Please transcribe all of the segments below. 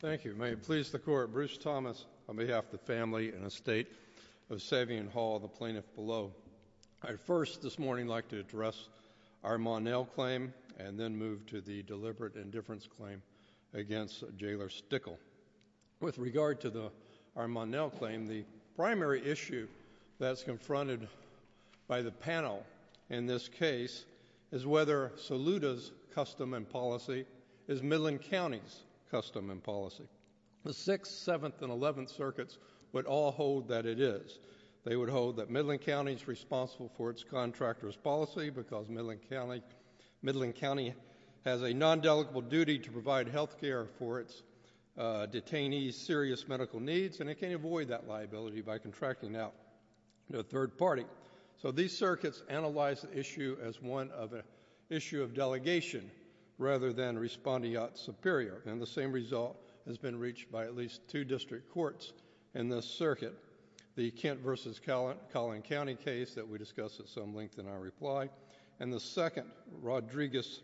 Thank you. May it please the court, Bruce Thomas on behalf of the family and estate of Savion Hall, the plaintiff below. I first this morning like to address our Monnell claim and then move to the deliberate indifference claim against Jailer Stickle. With regard to the our Monnell claim, the primary issue that's confronted by the panel in this case is whether Saluda's custom and policy is Midland County's custom and policy. The 6th, 7th, and 11th circuits would all hold that it is. They would hold that Midland County is responsible for its contractor's policy because Midland County has a non-delegable duty to provide health care for its detainees' serious medical needs and it can avoid that liability by contracting out a third party. So these circuits analyze the issue as one of a issue of delegation rather than responding out superior and the same result has been reached by at least two district courts in this circuit. The Kent v. Collin County case that we discussed at some length in our reply and the second Rodriguez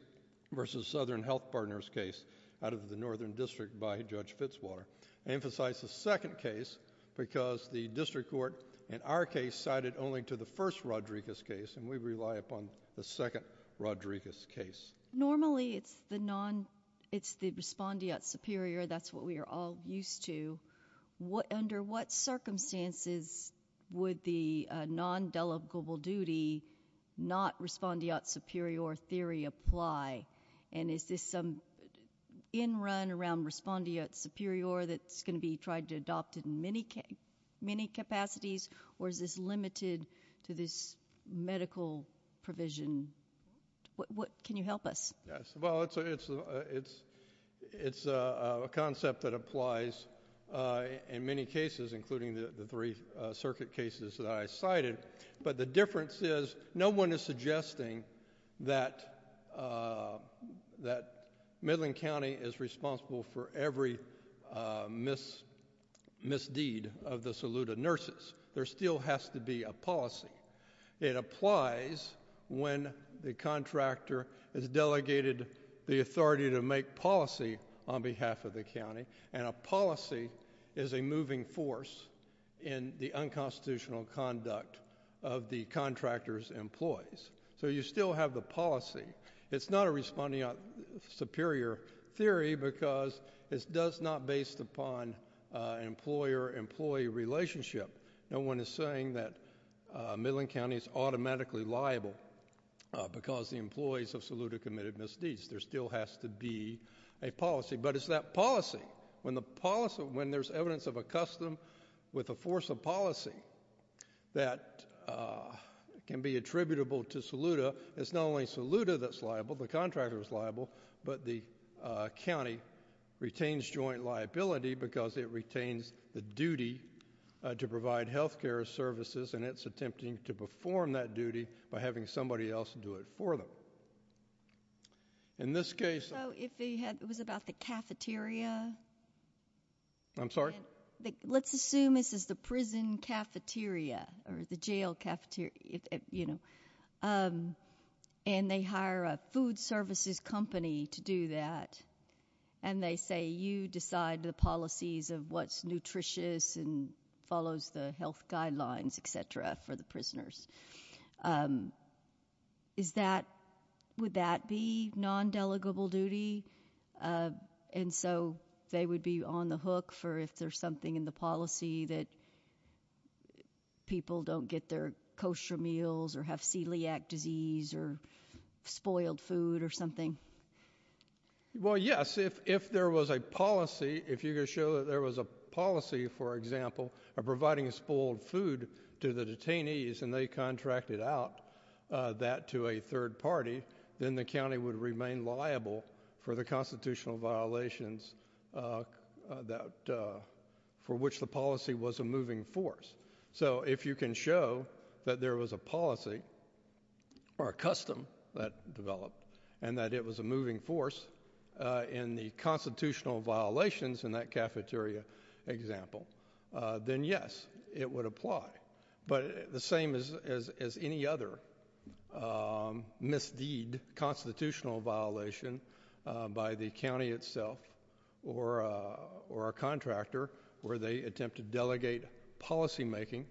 v. Southern Health Partners case out of the Northern District by Judge Fitzwater emphasize the second case because the district court in our case cited only to the first Rodriguez case and we rely upon the second Rodriguez case. Normally it's the respondeat superior that's what we are all used to. Under what circumstances would the non-delegable duty not respondeat superior theory apply and is this some in run around respondeat superior that's going to be tried to adopt in many many capacities or is this limited to this medical provision? What can you help us? Yes well it's it's it's it's a concept that applies in many cases including the three circuit cases that I cited but the difference is no one is suggesting that that Midland County is responsible for every misdeed of the Saluda nurses. There still has to be a policy. It applies when the contractor is delegated the authority to make policy on behalf of the county and a policy is a moving force in the unconstitutional conduct of the contractors employees. So you still have the policy. It's not a respondeat superior theory because it does not based upon employer employee relationship. No one is saying that Midland County is automatically liable because the employees of Saluda committed misdeeds. There still has to be a policy but it's that policy when the policy when there's evidence of a custom with a force of policy that can be attributable to Saluda it's not only Saluda that's liable the contractor is liable but the county retains joint liability because it retains the duty to provide health care services and it's attempting to perform that duty by having somebody else do it for them. In this case it was about the cafeteria. I'm sorry let's assume this is the prison cafeteria or the jail cafeteria you know and they hire a food services company to do that and they say you decide the policies of what's nutritious and follows the health guidelines etc for the prisoners. Is that would that be non-delegable duty and so they would be on the hook for if there's something in the policy that people don't get their kosher meals or have celiac disease or well yes if if there was a policy if you could show that there was a policy for example of providing a spoiled food to the detainees and they contracted out that to a third party then the county would remain liable for the constitutional violations that for which the policy was a moving force. So if you can show that there was a policy or a custom that developed and that it was a moving force in the constitutional violations in that cafeteria example then yes it would apply. But the same as as any other misdeed constitutional violation by the county itself or or a contractor where they attempt to delegate policymaking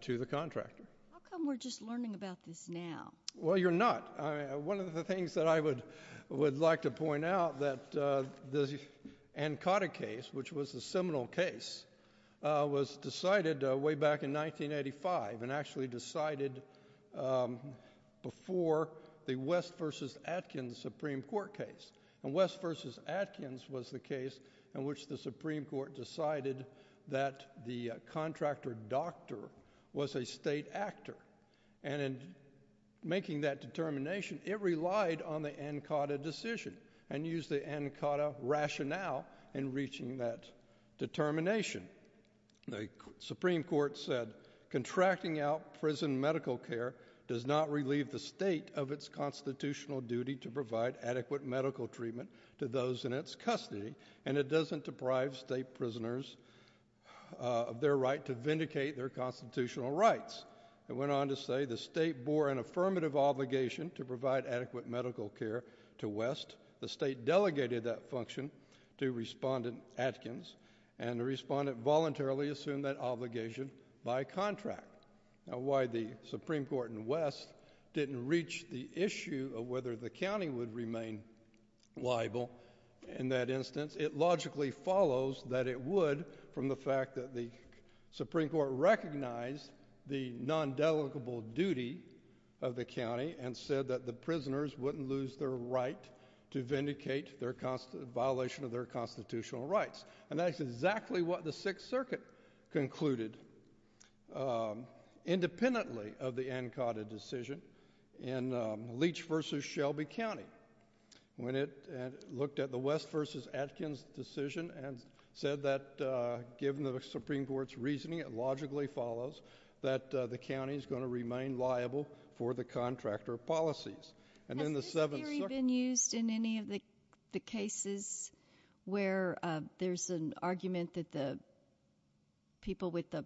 to the contractor. How come we're just learning about this now? Well you're not. One of the things that I would would like to point out that the Ancotta case which was a seminal case was decided way back in 1985 and actually decided before the West versus Atkins Supreme Court case and West versus Atkins was the case in which the Supreme Court decided that the determination it relied on the Ancotta decision and used the Ancotta rationale in reaching that determination. The Supreme Court said contracting out prison medical care does not relieve the state of its constitutional duty to provide adequate medical treatment to those in its custody and it doesn't deprive state prisoners of their right to vindicate their constitutional rights. It went on to say the state bore an affirmative obligation to provide adequate medical care to West. The state delegated that function to respondent Atkins and the respondent voluntarily assumed that obligation by contract. Now why the Supreme Court and West didn't reach the issue of whether the county would remain liable in that instance it logically follows that it would from the Supreme Court recognized the non-delegable duty of the county and said that the prisoners wouldn't lose their right to vindicate their violation of their constitutional rights and that's exactly what the Sixth Circuit concluded independently of the Ancotta decision in Leach versus Shelby County when it looked at the West versus Atkins decision and said that given the Supreme Court's reasoning it logically follows that the county is going to remain liable for the contractor policies. Has this theory been used in any of the cases where there's an argument that the people with the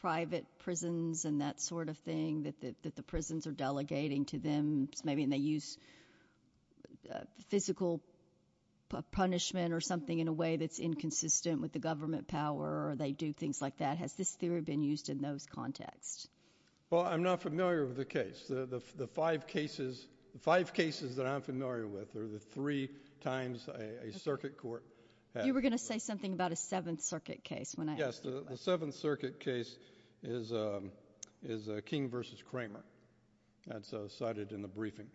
private prisons and that sort of thing that the prisons are delegating to them maybe and they use physical punishment or something in a way that's inconsistent with the government power or they do things like that has this theory been used in those context? Well I'm not familiar with the case the five cases five cases that I'm familiar with are the three times a circuit court. You were going to say something about a Seventh Circuit case. Yes the Seventh Circuit case is a King versus Kramer that's cited in the briefing.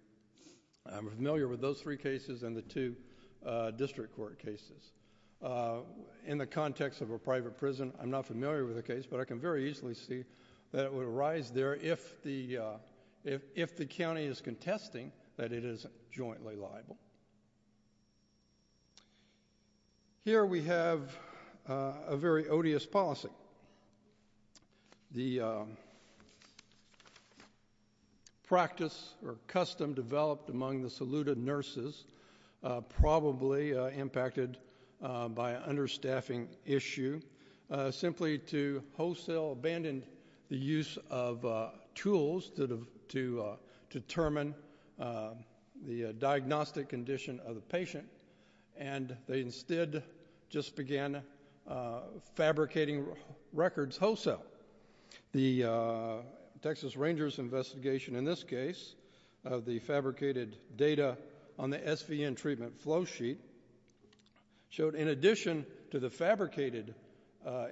I'm familiar with those three cases and the two district court cases. In the context of a private prison I'm not familiar with the case but I can very easily see that it would arise there if the if the county is contesting that it is jointly liable. Here we have a very odious policy. The practice or custom developed among the saluted nurses probably impacted by an understaffing issue simply to wholesale abandon the use of tools that have to determine the diagnostic condition of the patient and they records wholesale. The Texas Rangers investigation in this case of the fabricated data on the SVN treatment flow sheet showed in addition to the fabricated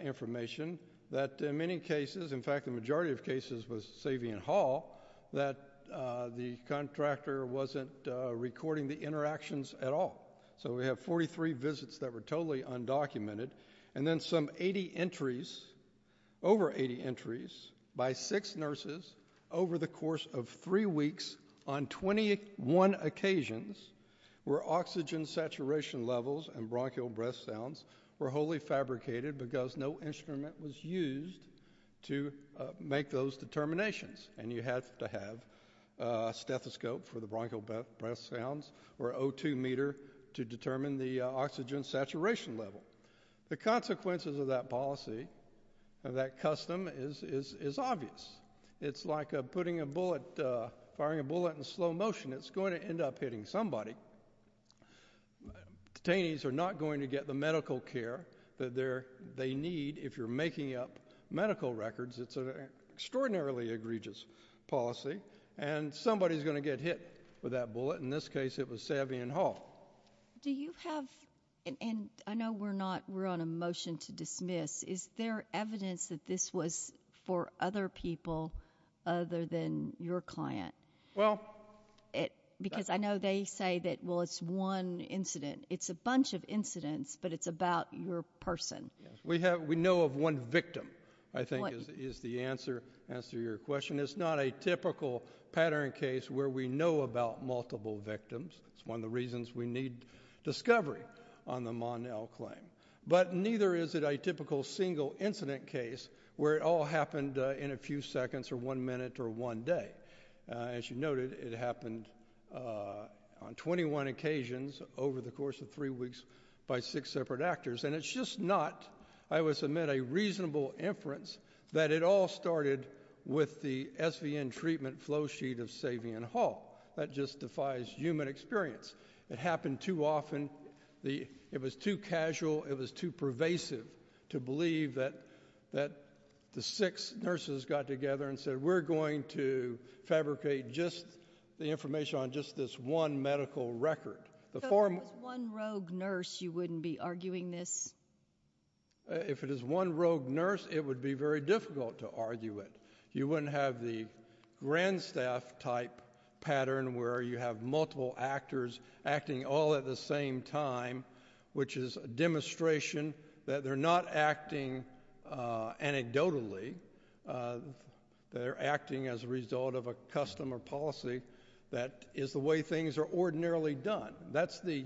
information that in many cases in fact the majority of cases was Savion Hall that the contractor wasn't recording the interactions at all. So we have 43 visits that were totally undocumented and then some 80 entries over 80 entries by six nurses over the course of three weeks on 21 occasions where oxygen saturation levels and bronchial breath sounds were wholly fabricated because no instrument was used to make those determinations and you have to have a stethoscope for the bronchial breath sounds or O2 meter to determine the oxygen saturation level. The consequences of that policy of that custom is is obvious. It's like putting a bullet firing a bullet in slow motion it's going to end up hitting somebody. Detainees are not going to get the medical care that they're they need if you're making up medical records it's an extraordinarily egregious policy and somebody's going to get hit with that Do you have and I know we're not we're on a motion to dismiss is there evidence that this was for other people other than your client? Well it because I know they say that well it's one incident it's a bunch of incidents but it's about your person. We have we know of one victim I think is the answer answer your question it's not a typical pattern case where we know about multiple victims it's one of the reasons we need discovery on the Monell claim but neither is it a typical single incident case where it all happened in a few seconds or one minute or one day. As you noted it happened on 21 occasions over the course of three weeks by six separate actors and it's just not I would submit a reasonable inference that it all started with the SVN treatment flow that justifies human experience it happened too often the it was too casual it was too pervasive to believe that that the six nurses got together and said we're going to fabricate just the information on just this one medical record. If it was one rogue nurse you wouldn't be arguing this? If it is one rogue nurse it would be very difficult to argue it. You wouldn't have the grand staff type pattern where you have multiple actors acting all at the same time which is a demonstration that they're not acting anecdotally they're acting as a result of a custom or policy that is the way things are ordinarily done. That's the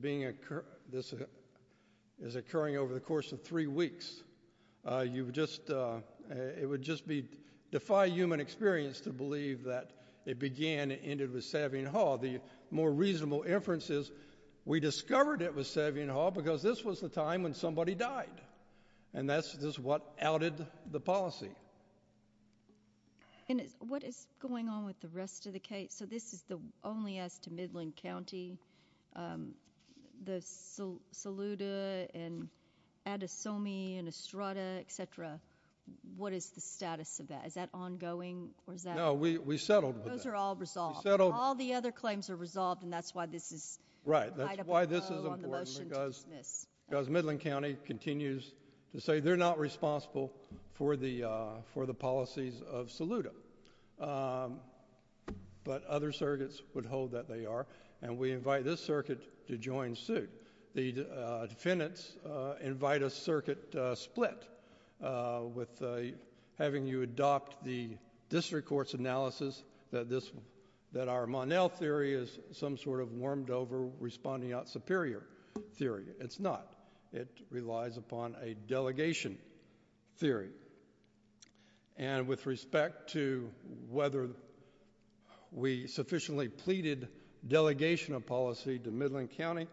being occur this is occurring over the course of three weeks. You've just it would just be defy human experience to believe that it began it ended with Savion Hall. The more reasonable inference is we discovered it was Savion Hall because this was the time when somebody died and that's just what outed the policy. And what is going on with the rest of the case so this is the only as the Saluda and Adesomi and Estrada etc. What is the status of that? Is that ongoing or is that? No we we settled. Those are all resolved. All the other claims are resolved and that's why this is right. That's why this is important because Midland County continues to say they're not responsible for the for the policies of Saluda. But other surrogates would hold that they are and we invite this circuit to join suit. The defendants invite a circuit split with having you adopt the district courts analysis that this that our Monell theory is some sort of warmed over responding out superior theory. It's not. It relies upon a delegation theory and with respect to whether we sufficiently pleaded delegation of policy to Midland County.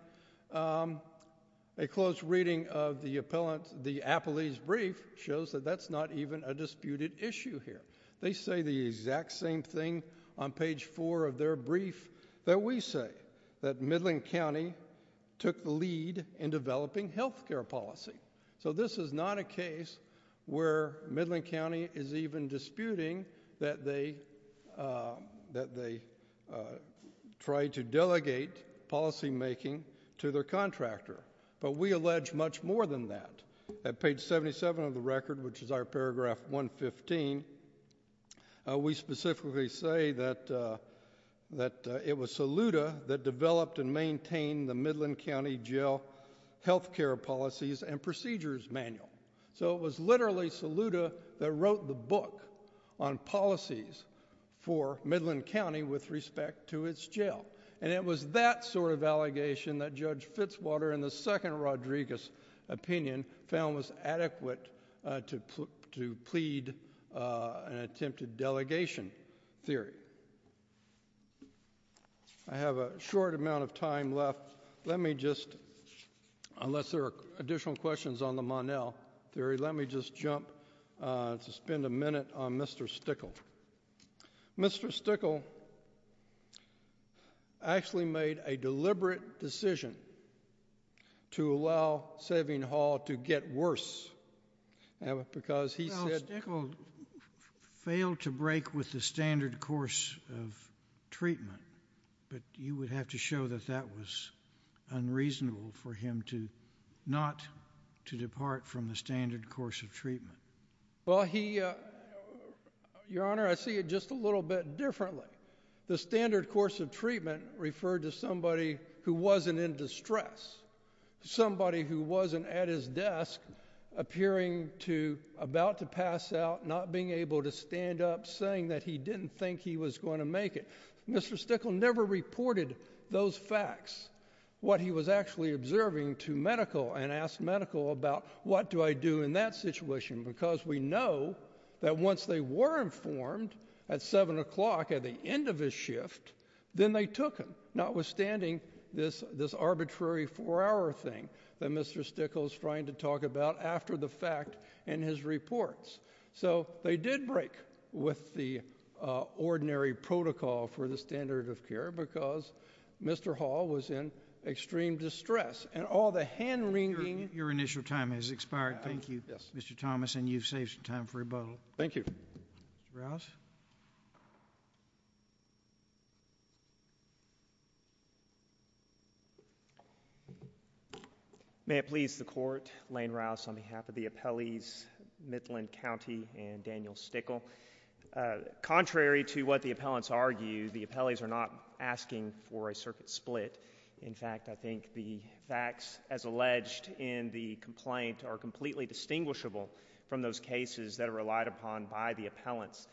A close reading of the appellant the appellee's brief shows that that's not even a disputed issue here. They say the exact same thing on page four of their brief that we say that Midland County took the lead in developing health care policy. So this is not a case where Midland County is even disputing that they that they tried to delegate policymaking to their contractor. But we allege much more than that. At page 77 of the record which is our paragraph 115 we specifically say that that it was Saluda that developed and maintained the Midland County Jail health care policies and procedures manual. So it was literally Saluda that wrote the book on policies for Midland County with respect to its jail. And it was that sort of allegation that Judge Fitzwater in the second Rodriguez opinion found was adequate to plead an attempted delegation theory. I have a unless there are additional questions on the Monel theory let me just jump to spend a minute on Mr. Stickel. Mr. Stickel actually made a deliberate decision to allow Saving Hall to get worse because he failed to break with the standard course of treatment. But you would have to show that that was unreasonable for him to not to depart from the standard course of treatment. Well he your honor I see it just a little bit differently. The standard course of treatment referred to somebody who wasn't in distress. Somebody who wasn't at his desk appearing to about to pass out not being able to stand up saying that he didn't think he was going to make it. Mr. Stickle never reported those facts. What he was actually observing to medical and asked medical about what do I do in that situation because we know that once they were informed at seven o'clock at the end of his shift then they took him not withstanding this this arbitrary four-hour thing that Mr. Stickel is trying to talk about after the fact in his reports. So they did break with the standard of care because Mr. Hall was in extreme distress and all the hand-wringing. Your initial time has expired. Thank you. Yes. Mr. Thomas and you've saved some time for rebuttal. Thank you. May it please the court. Lane Rouse on behalf of the appellees Midland County and Daniel Stickle. Contrary to what the appellants argue the appellees are not asking for a circuit split. In fact I think the facts as alleged in the complaint are completely distinguishable from those cases that are relied upon by the appellants.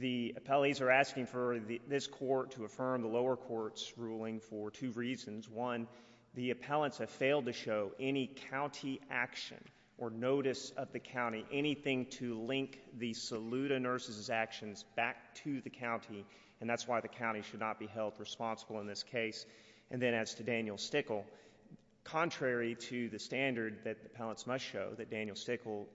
The appellees are asking for this court to affirm the lower courts ruling for two reasons. One the appellants have failed to show any county action or notice of the county anything to link the Saluda nurses actions back to the county and that's why the county should not be held responsible in this case and then as to Daniel Stickle. Contrary to the standard that the appellants must show that Daniel Stickle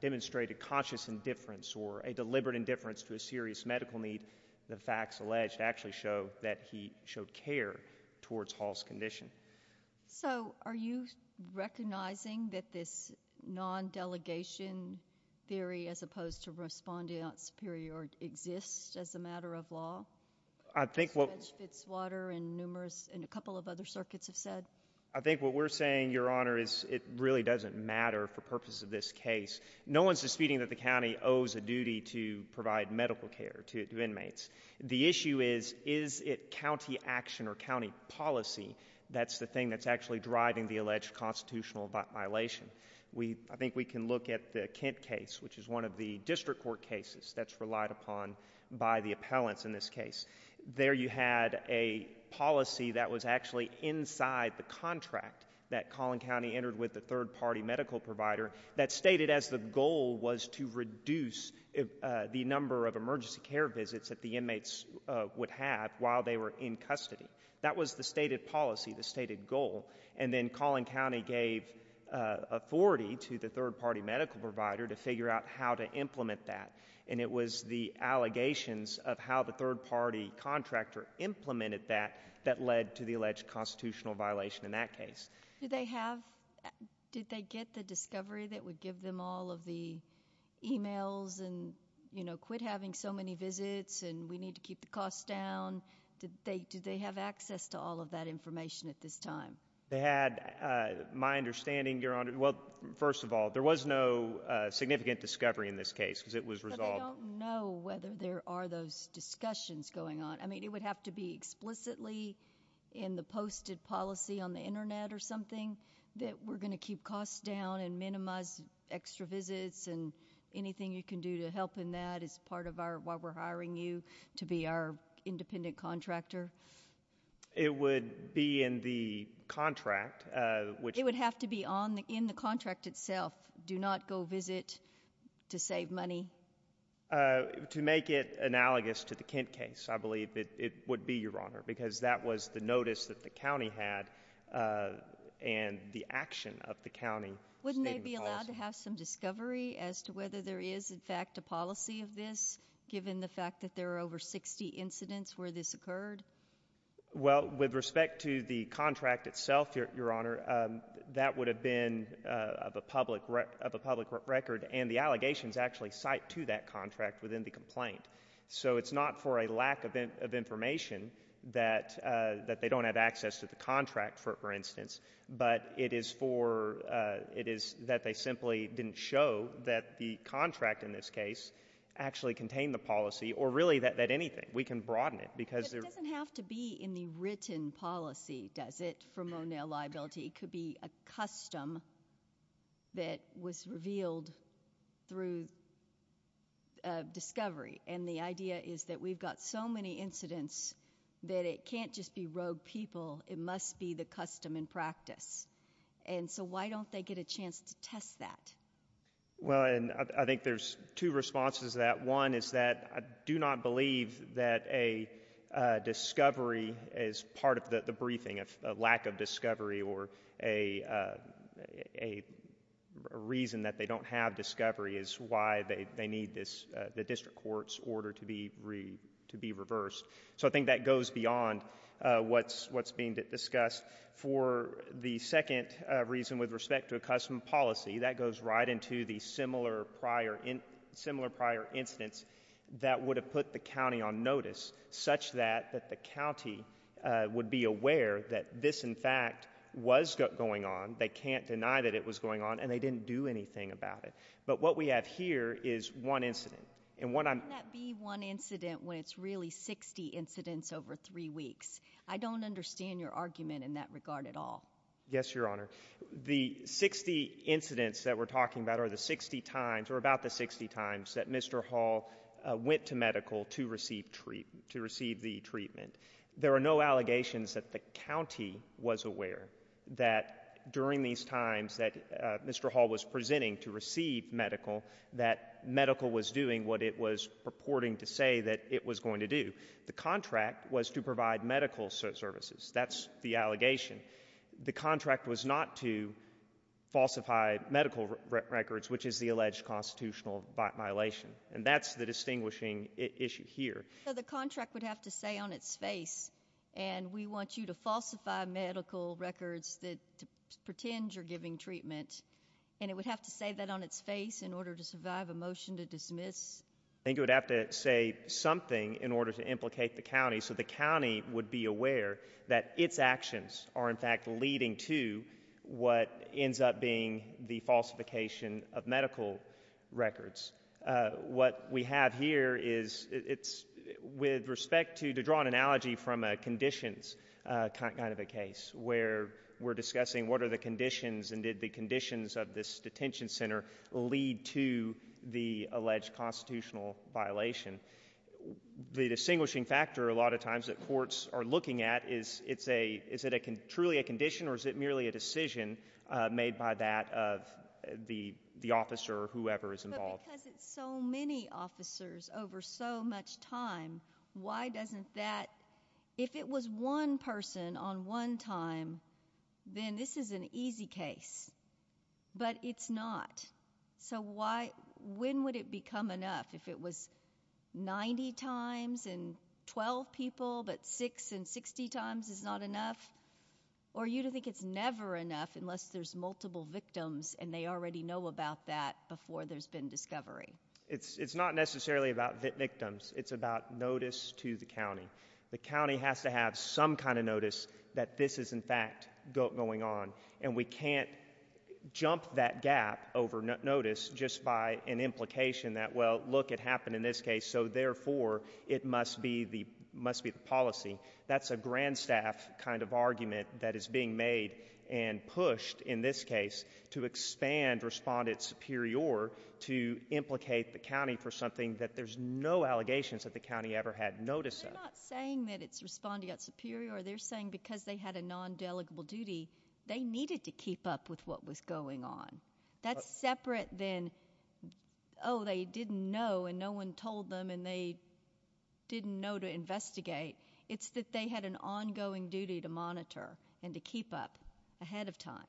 demonstrated conscious indifference or a deliberate indifference to a serious medical need. The facts alleged actually show that he showed care towards Hall's condition. So are you recognizing that this non-delegation theory as opposed to respondeat superior exist as a matter of law? I think what it's water and numerous and a couple of other circuits have said. I think what we're saying your honor is it really doesn't matter for purposes of this case. No one's disputing that the county owes a duty to provide medical care to inmates. The issue is is it county action or county policy that's the thing that's actually driving the alleged constitutional violation. We I look at the Kent case which is one of the district court cases that's relied upon by the appellants in this case. There you had a policy that was actually inside the contract that Collin County entered with the third party medical provider that stated as the goal was to reduce the number of emergency care visits that the inmates would have while they were in custody. That was the stated policy the stated goal and then Collin County gave authority to the third-party medical provider to figure out how to implement that and it was the allegations of how the third-party contractor implemented that that led to the alleged constitutional violation in that case. Do they have did they get the discovery that would give them all of the emails and you know quit having so many visits and we need to keep the cost down? Did they do they have access to all of that information at this time? They had my understanding your honor well first of all there was no significant discovery in this case because it was resolved. I don't know whether there are those discussions going on I mean it would have to be explicitly in the posted policy on the internet or something that we're gonna keep costs down and minimize extra visits and anything you can do to help in that is part of our why we're hiring you to be our independent contractor. It would be in the contract which it would have to be on the in the contract itself do not go visit to save money? To make it analogous to the Kent case I believe it would be your honor because that was the notice that the county had and the action of the county. Wouldn't they be allowed to have some discovery as to whether there is in fact a policy of this given the fact that there are over 60 incidents where this occurred? Well with respect to the incidents that have been of a public record and the allegations actually cite to that contract within the complaint so it's not for a lack of information that that they don't have access to the contract for instance but it is for it is that they simply didn't show that the contract in this case actually contain the policy or really that anything we can broaden it because it doesn't have to be in the written policy does it from O'Neill liability could be a custom that was revealed through discovery and the idea is that we've got so many incidents that it can't just be rogue people it must be the custom in practice and so why don't they get a chance to test that? Well and I think there's two responses that one is that I do not believe that a discovery is part of the briefing of a lack of discovery or a reason that they don't have discovery is why they need this the district court's order to be reversed so I think that goes beyond what's what's being discussed for the second reason with respect to a custom policy that goes right into the similar prior in similar prior incidents that would have put the county on notice such that that the county would be aware that this in fact was going on they can't deny that it was going on and they didn't do anything about it but what we have here is one incident and when I'm that be one incident when it's really 60 incidents over three weeks I don't understand your argument in that regard at all. Yes your honor the 60 incidents that we're talking about are the 60 times or about the 60 times that Mr. Hall went to medical to receive treatment to receive the treatment there are no allegations that the county was aware that during these times that Mr. Hall was presenting to receive medical that medical was doing what it was purporting to say that it was going to do the contract was to provide medical services that's the allegation the contract was not to falsify medical records which is the alleged constitutional violation and that's the distinguishing issue here. The contract would have to say on its face and we want you to falsify medical records that pretend you're giving treatment and it would have to say that on its face in order to survive a motion to dismiss. I think it would have to say something in order to implicate the county so the county is aware that its actions are in fact leading to what ends up being the falsification of medical records. What we have here is it's with respect to to draw an analogy from a conditions kind of a case where we're discussing what are the conditions and did the conditions of this detention center lead to the alleged constitutional violation. The distinguishing factor a lot of times that courts are looking at is it's a is it a truly a condition or is it merely a decision made by that of the the officer or whoever is involved. So many officers over so much time why doesn't that if it was one person on one time then this is an easy case but it's not so why when would it become enough if it was 90 times and 12 people but six and 60 times is not enough or you think it's never enough unless there's multiple victims and they already know about that before there's been discovery. It's it's not necessarily about the victims it's about notice to the county. The county has to have some kind of notice that this is in fact going on and we can't jump that gap over notice just by an in this case so therefore it must be the must be the policy that's a grand staff kind of argument that is being made and pushed in this case to expand respond it's superior to implicate the county for something that there's no allegations that the county ever had notice saying that it's responding at superior they're saying because they had a non-delegable duty they needed to keep up with what was going on. That's separate than oh they didn't know and no one told them and they didn't know to investigate. It's that they had an ongoing duty to monitor and to keep up ahead of time.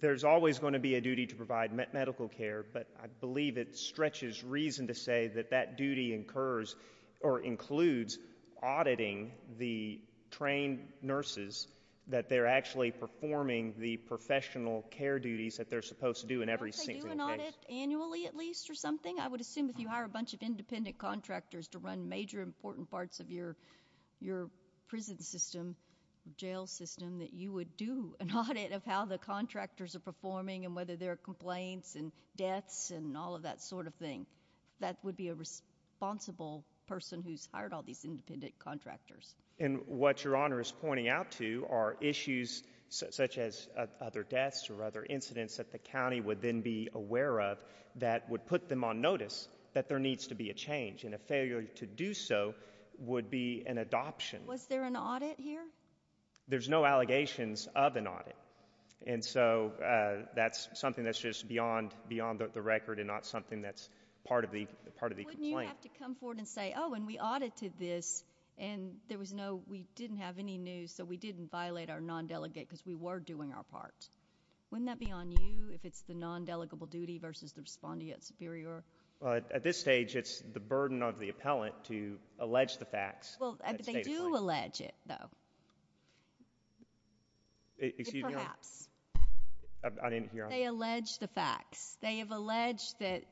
There's always going to be a duty to provide medical care but I believe it stretches reason to say that that duty incurs or includes auditing the trained nurses that they're actually performing the professional care duties that they're supposed to do in every single case. Don't they do an audit annually at least or something? I would assume if you hire a bunch of independent contractors to run major important parts of your your prison system jail system that you would do an audit of how the contractors are performing and whether there are complaints and deaths and all of that sort of thing. That would be a responsible person who's hired all these independent contractors. And what your honor is pointing out to are issues such as other deaths or other incidents that the county would then be aware of that would put them on notice that there needs to be a change and a failure to do so would be an adoption. Was there an audit here? There's no allegations of an audit and so that's something that's just beyond beyond the record and not something that's part of the part of the complaint. Wouldn't you have to come forward and say oh and we audited this and there was no we didn't have any news so we didn't violate our non-delegate because we were doing our part. Wouldn't that be on you if it's the non-delegable duty versus the respondeat superior? Well at this stage it's the burden of the appellant to allege the facts. Well they do allege it though. They allege the facts. They have alleged that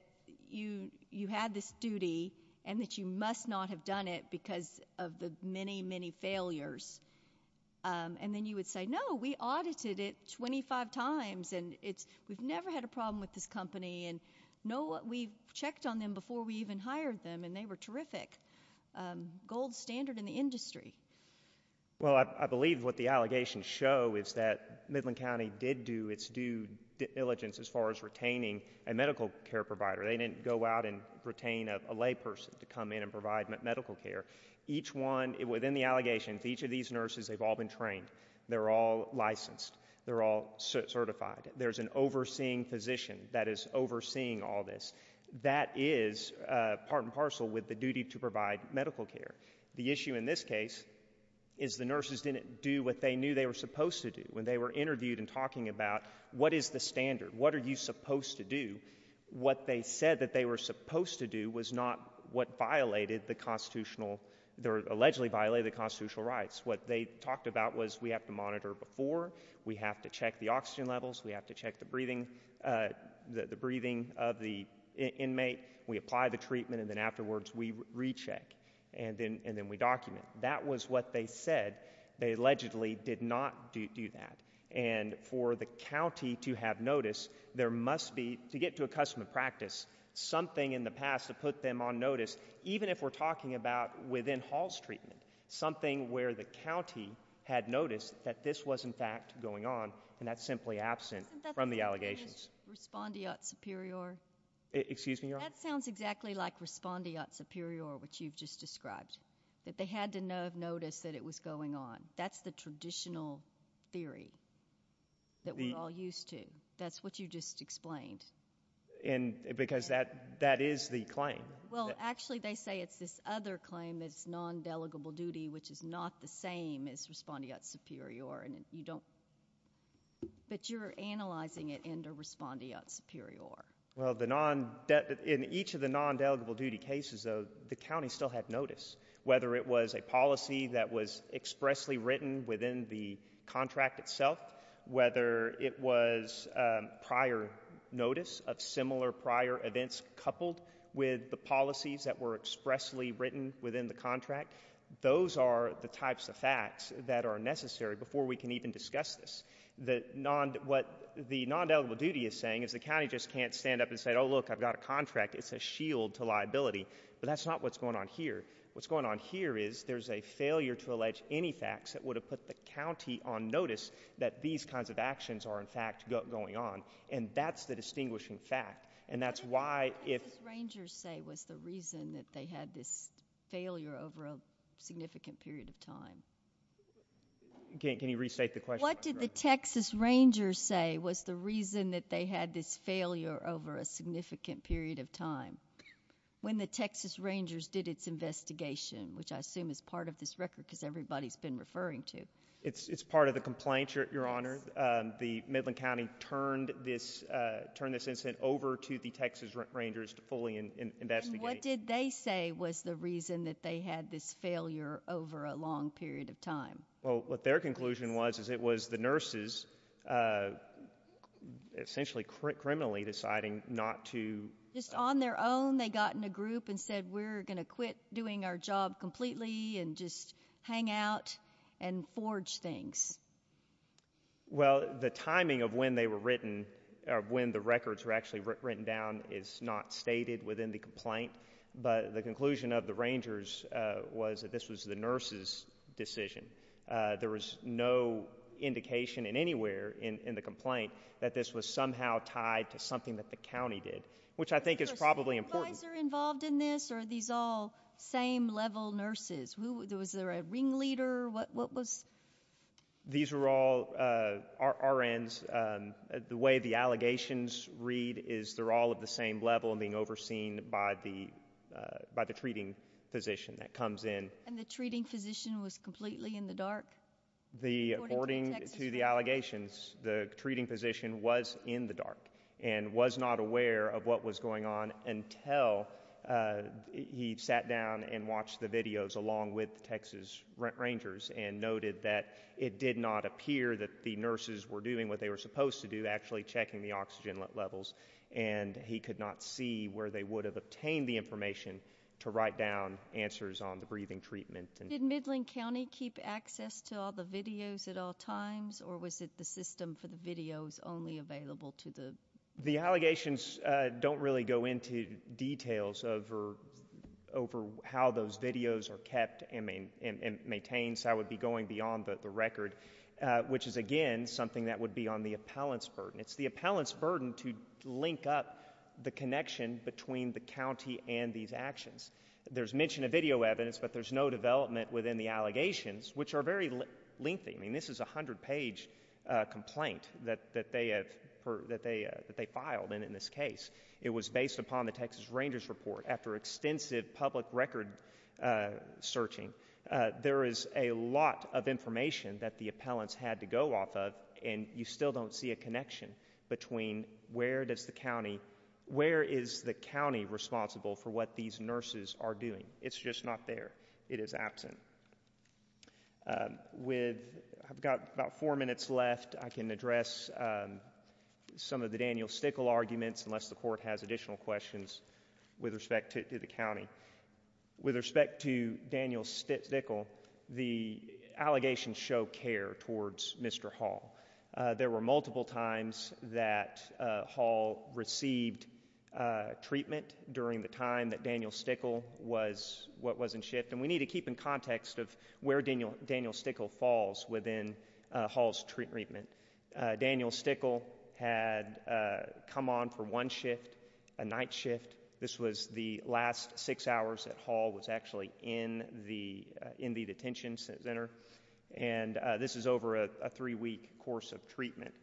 you you had this duty and that you must not have done it because of the many many failures and then you would say no we audited it 25 times and it's we've never had a problem with this company and no we checked on them before we even hired them and they were terrific. Gold standard in the industry. Well I believe what the allegations show is that Midland County did do its due diligence as far as retaining a medical care provider. They didn't go out and retain a layperson to come in and provide medical care. Each one within the allegations each of these nurses they've all been trained. They're all licensed. They're all certified. There's an overseeing physician that is overseeing all this. That is part and parcel with the duty to provide medical care. The issue in this case is the nurses didn't do what they knew they were supposed to do when they were interviewed and talking about what is the standard? What are you supposed to do? What they said that they were supposed to do was not what violated the constitutional rights. What they talked about was we have to monitor before. We have to check the oxygen levels. We have to check the breathing the breathing of the inmate. We apply the treatment and then afterwards we recheck and then and then we document. That was what they said. They allegedly did not do that and for the county to have notice there must be to get to a custom of practice something in the past to put them on notice even if we're talking about within halls treatment. Something where the county had noticed that this was in fact going on and that's simply absent from the allegations. Isn't that the same thing as respondeat superior? Excuse me your honor? That sounds exactly like respondeat superior which you've just described. That they had to have noticed that it was going on. That's the traditional theory that we're all used to. That's what you just explained. And because that that is the claim. Well actually they say it's this other claim that's non-delegable duty which is not the same as respondeat superior. And you don't but you're analyzing it into respondeat superior. Well the non that in each of the non-delegable duty cases of the county still have notice. Whether it was a policy that was expressly written within the contract itself. Whether it was prior notice of similar prior events coupled with the policies that were in the contract. Those are the types of facts that are necessary before we can even discuss this. The non what the non-delegable duty is saying is the county just can't stand up and say oh look I've got a contract. It's a shield to liability. But that's not what's going on here. What's going on here is there's a failure to allege any facts that would have put the county on notice that these kinds of actions are in fact going on. And that's the distinguishing fact. And that's why if Rangers say was the reason that they had this failure over a significant period of time. Can you restate the question. What did the Texas Rangers say was the reason that they had this failure over a significant period of time. When the Texas Rangers did its investigation which I assume is part of this record because everybody's been referring to. It's it's part of the complaint your honor. The Midland County turned this turn this incident over to the Texas Rangers to fully investigate. What did they say was the reason that they had this failure over a long period of time. Well what their conclusion was is it was the nurses essentially criminally deciding not to. Just on their own they got in a group and said we're gonna quit doing our job completely and just hang out and forge things. Well the timing of when they were going to turn this around is not stated within the complaint. But the conclusion of the Rangers was that this was the nurses decision. There was no indication in anywhere in the complaint that this was somehow tied to something that the county did. Which I think is probably important. Are these all same level nurses. Was there a ring leader. What was. These were all RNs. The way the allegations read is they're all the same level and being overseen by the by the treating physician that comes in. And the treating physician was completely in the dark. According to the allegations the treating physician was in the dark and was not aware of what was going on until he sat down and watched the videos along with Texas Rangers and noted that it did not appear that the nurses were doing what they were supposed to do actually checking the oxygen levels. And he could not see where they would have obtained the information to write down answers on the breathing treatment. Did Midland County keep access to all the videos at all times or was it the system for the videos only available to the. The allegations don't really go into details over over how those videos are kept and maintained. So I would be going beyond the record which is again something that would be on the appellant's burden. It's the appellant's burden to link up the connection between the county and these actions. There's mention of video evidence but there's no development within the allegations which are very lengthy. I mean this is a hundred page complaint that that they have heard that they that they filed and in this case it was based upon the Texas Rangers report after extensive public record searching. There is a lot of information that the appellants had to go off of and you still don't see a connection between where does the county where is the county responsible for what these nurses are doing. It's just not there. It is absent. With I've got about four minutes left I can address some of the Daniel Stickle arguments unless the court has additional questions with respect to the county. With respect to Daniel Stickle the allegations show care towards Mr. Hall. There were multiple times that Hall received treatment during the time that Daniel Stickle was what was in shift and we need to keep in context of where Daniel Daniel Stickle falls within Hall's treatment. Daniel Stickle had come on for one shift, a night shift. This was the last six hours that Hall was actually in the in the detention center and this is over a three-week course of treatment.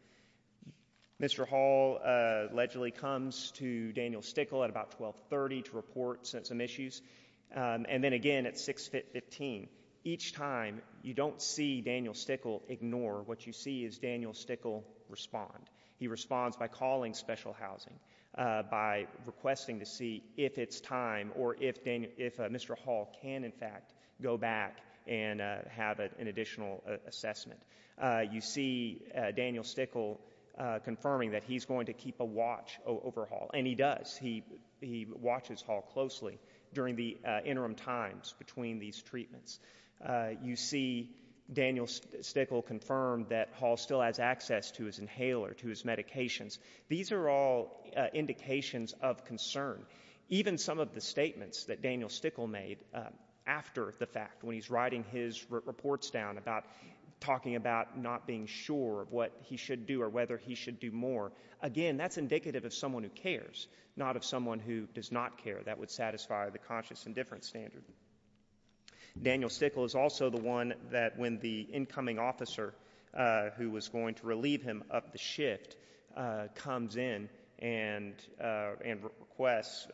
Mr. Hall allegedly comes to Daniel Stickle at about 1230 to report some issues and then again at 615. Each time you don't see Daniel Stickle ignore what you see is Daniel Stickle respond. He responds by calling special housing, by requesting to see if it's time or if Mr. Hall can in fact go back and have an additional assessment. You see Daniel Stickle confirming that he's going to keep a watch over Hall and he does. He watches Hall closely during the interim times between these treatments. You see Daniel Stickle confirmed that Hall still has access to his inhaler, to his medications. These are all indications of concern. Even some of the statements that Daniel Stickle made after the fact when he's writing his reports down about talking about not being sure of what he should do or whether he should do more. Again that's indicative of someone who cares, not of someone who does not care. That would satisfy the conscious indifference standard. Daniel Stickle is also the one that when the incoming officer who was going to relieve him of the shift comes in and requests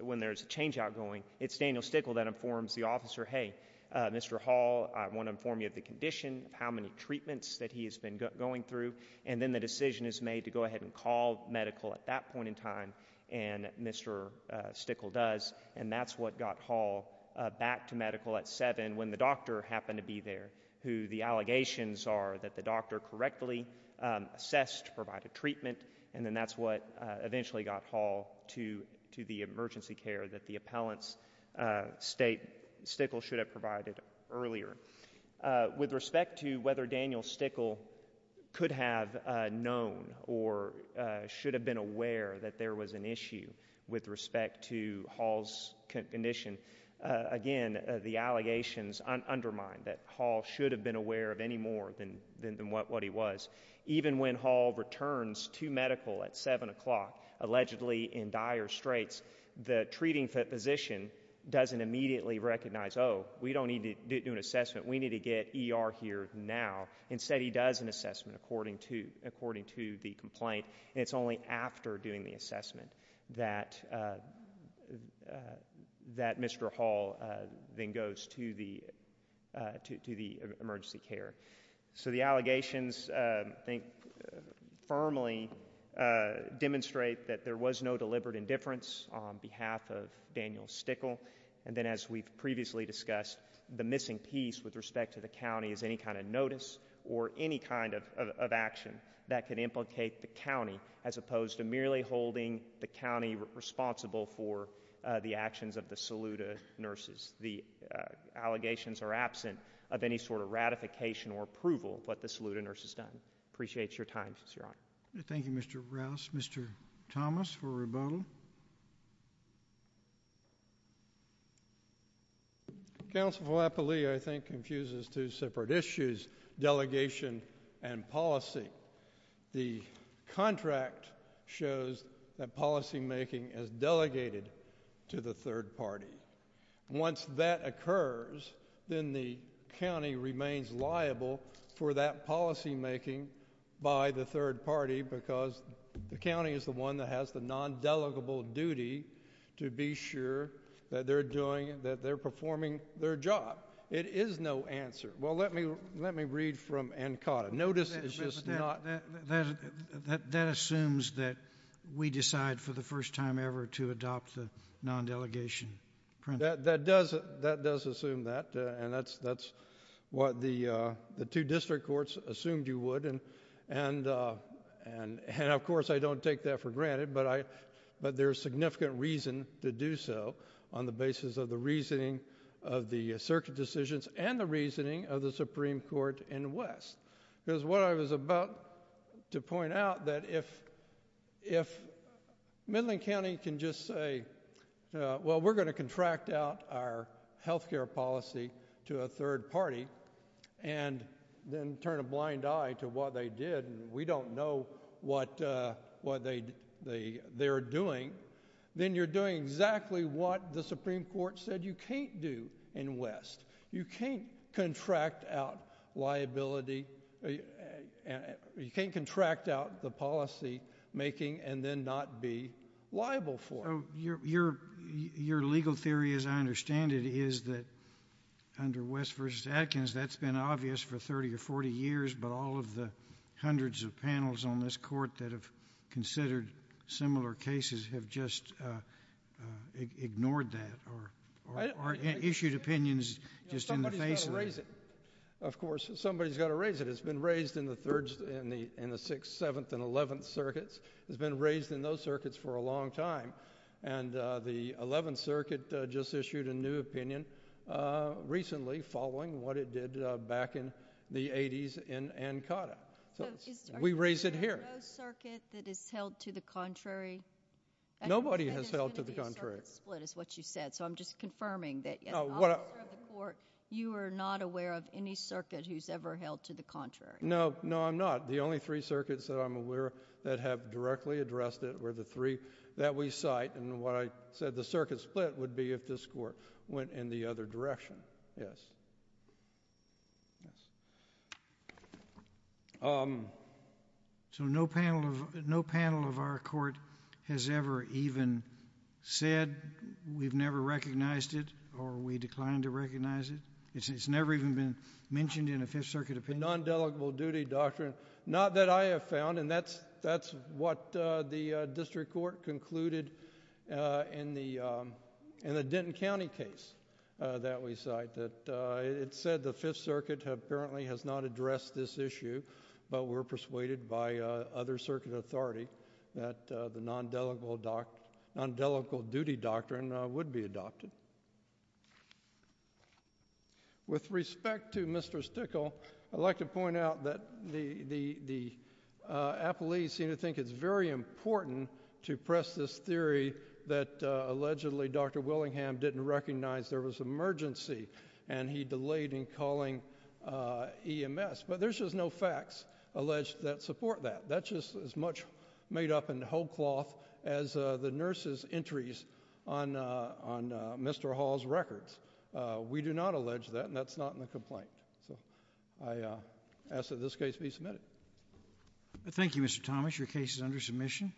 when there's a change outgoing, it's Daniel Stickle that informs the officer, hey Mr. Hall I want to inform you of the condition, how many treatments that he has been going through and then the decision is made to go ahead and call medical at that point in time and Mr. Stickle does and that's what got Hall back to medical at 7 when the doctor happened to be there who the and then that's what eventually got Hall to the emergency care that the appellants state Stickle should have provided earlier. With respect to whether Daniel Stickle could have known or should have been aware that there was an issue with respect to Hall's condition, again the allegations undermine that Hall should have been aware of any more than what he was. Even when Hall returns to medical at 7 o'clock, allegedly in dire straits, the treating physician doesn't immediately recognize, oh we don't need to do an assessment, we need to get ER here now. Instead he does an assessment according to according to the complaint. It's only after doing the assessment that that Mr. Hall then goes to the to the emergency care. So the allegations think firmly demonstrate that there was no deliberate indifference on behalf of Daniel Stickle and then as we've previously discussed the missing piece with respect to the county is any kind of notice or any kind of action that can implicate the county as opposed to merely holding the county responsible for the actions of the Saluda nurses. The allegations are absent of any sort of ratification or approval what the Saluda nurse has done. Appreciate your time, your honor. Thank you, Mr. Rouse. Mr. Thomas for rebuttal. Counselor Flappalee, I think confuses two separate issues, delegation and policy. The contract shows that policymaking is delegated to the third party. Once that occurs then the county remains liable for that policymaking by the third party because the county is the one that has the non-delegable duty to be sure that they're doing that they're performing their job. It is no answer. Well let me read from Ancada. Notice that assumes that we decide for the first time ever to adopt the non-delegation. That does that does assume that and that's that's what the the two district courts assumed you would and and and and of course I don't take that for granted but I but there's significant reason to do so on the basis of the reasoning of the circuit decisions and the reasoning of the Supreme Court in West because what I was about to point out that if if Midland County can just say well we're going to contract out our health care policy to a third party and then turn a blind eye to what they did and we don't know what what they they they're doing then you're doing exactly what the liability and you can't contract out the policy making and then not be liable for your your your legal theory as I understand it is that under West versus Atkins that's been obvious for 30 or 40 years but all of the hundreds of panels on this court that have considered similar cases have just ignored that or issued opinions just in the face of it. Of course somebody's got to raise it it's been raised in the third in the in the sixth seventh and eleventh circuits has been raised in those circuits for a long time and the 11th circuit just issued a new opinion recently following what it did back in the 80s in Ancada. So we raise it here that is held to the contrary. Nobody has held to the contrary split is what you said so I'm just confirming that you are not aware of any circuit who's ever held to the contrary. No no I'm not the only three circuits that I'm aware that have directly addressed it were the three that we cite and what I said the circuit split would be if this court went in the other direction. Yes so no panel of no court has ever even said we've never recognized it or we declined to recognize it it's never even been mentioned in a Fifth Circuit opinion. Non-delegable duty doctrine not that I have found and that's that's what the District Court concluded in the in the Denton County case that we cite that it said the Fifth Circuit apparently has not addressed this issue but we're the non-delegable doc non-delegable duty doctrine would be adopted. With respect to Mr. Stickel I'd like to point out that the the the appellees seem to think it's very important to press this theory that allegedly Dr. Willingham didn't recognize there was emergency and he delayed in calling EMS but there's no facts alleged that support that that's just as much made up in whole cloth as the nurses entries on on Mr. Hall's records. We do not allege that and that's not in the complaint so I ask that this case be submitted. Thank you Mr. Thomas your case is under submission.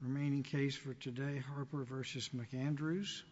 Remaining case for today Harper versus McAndrews.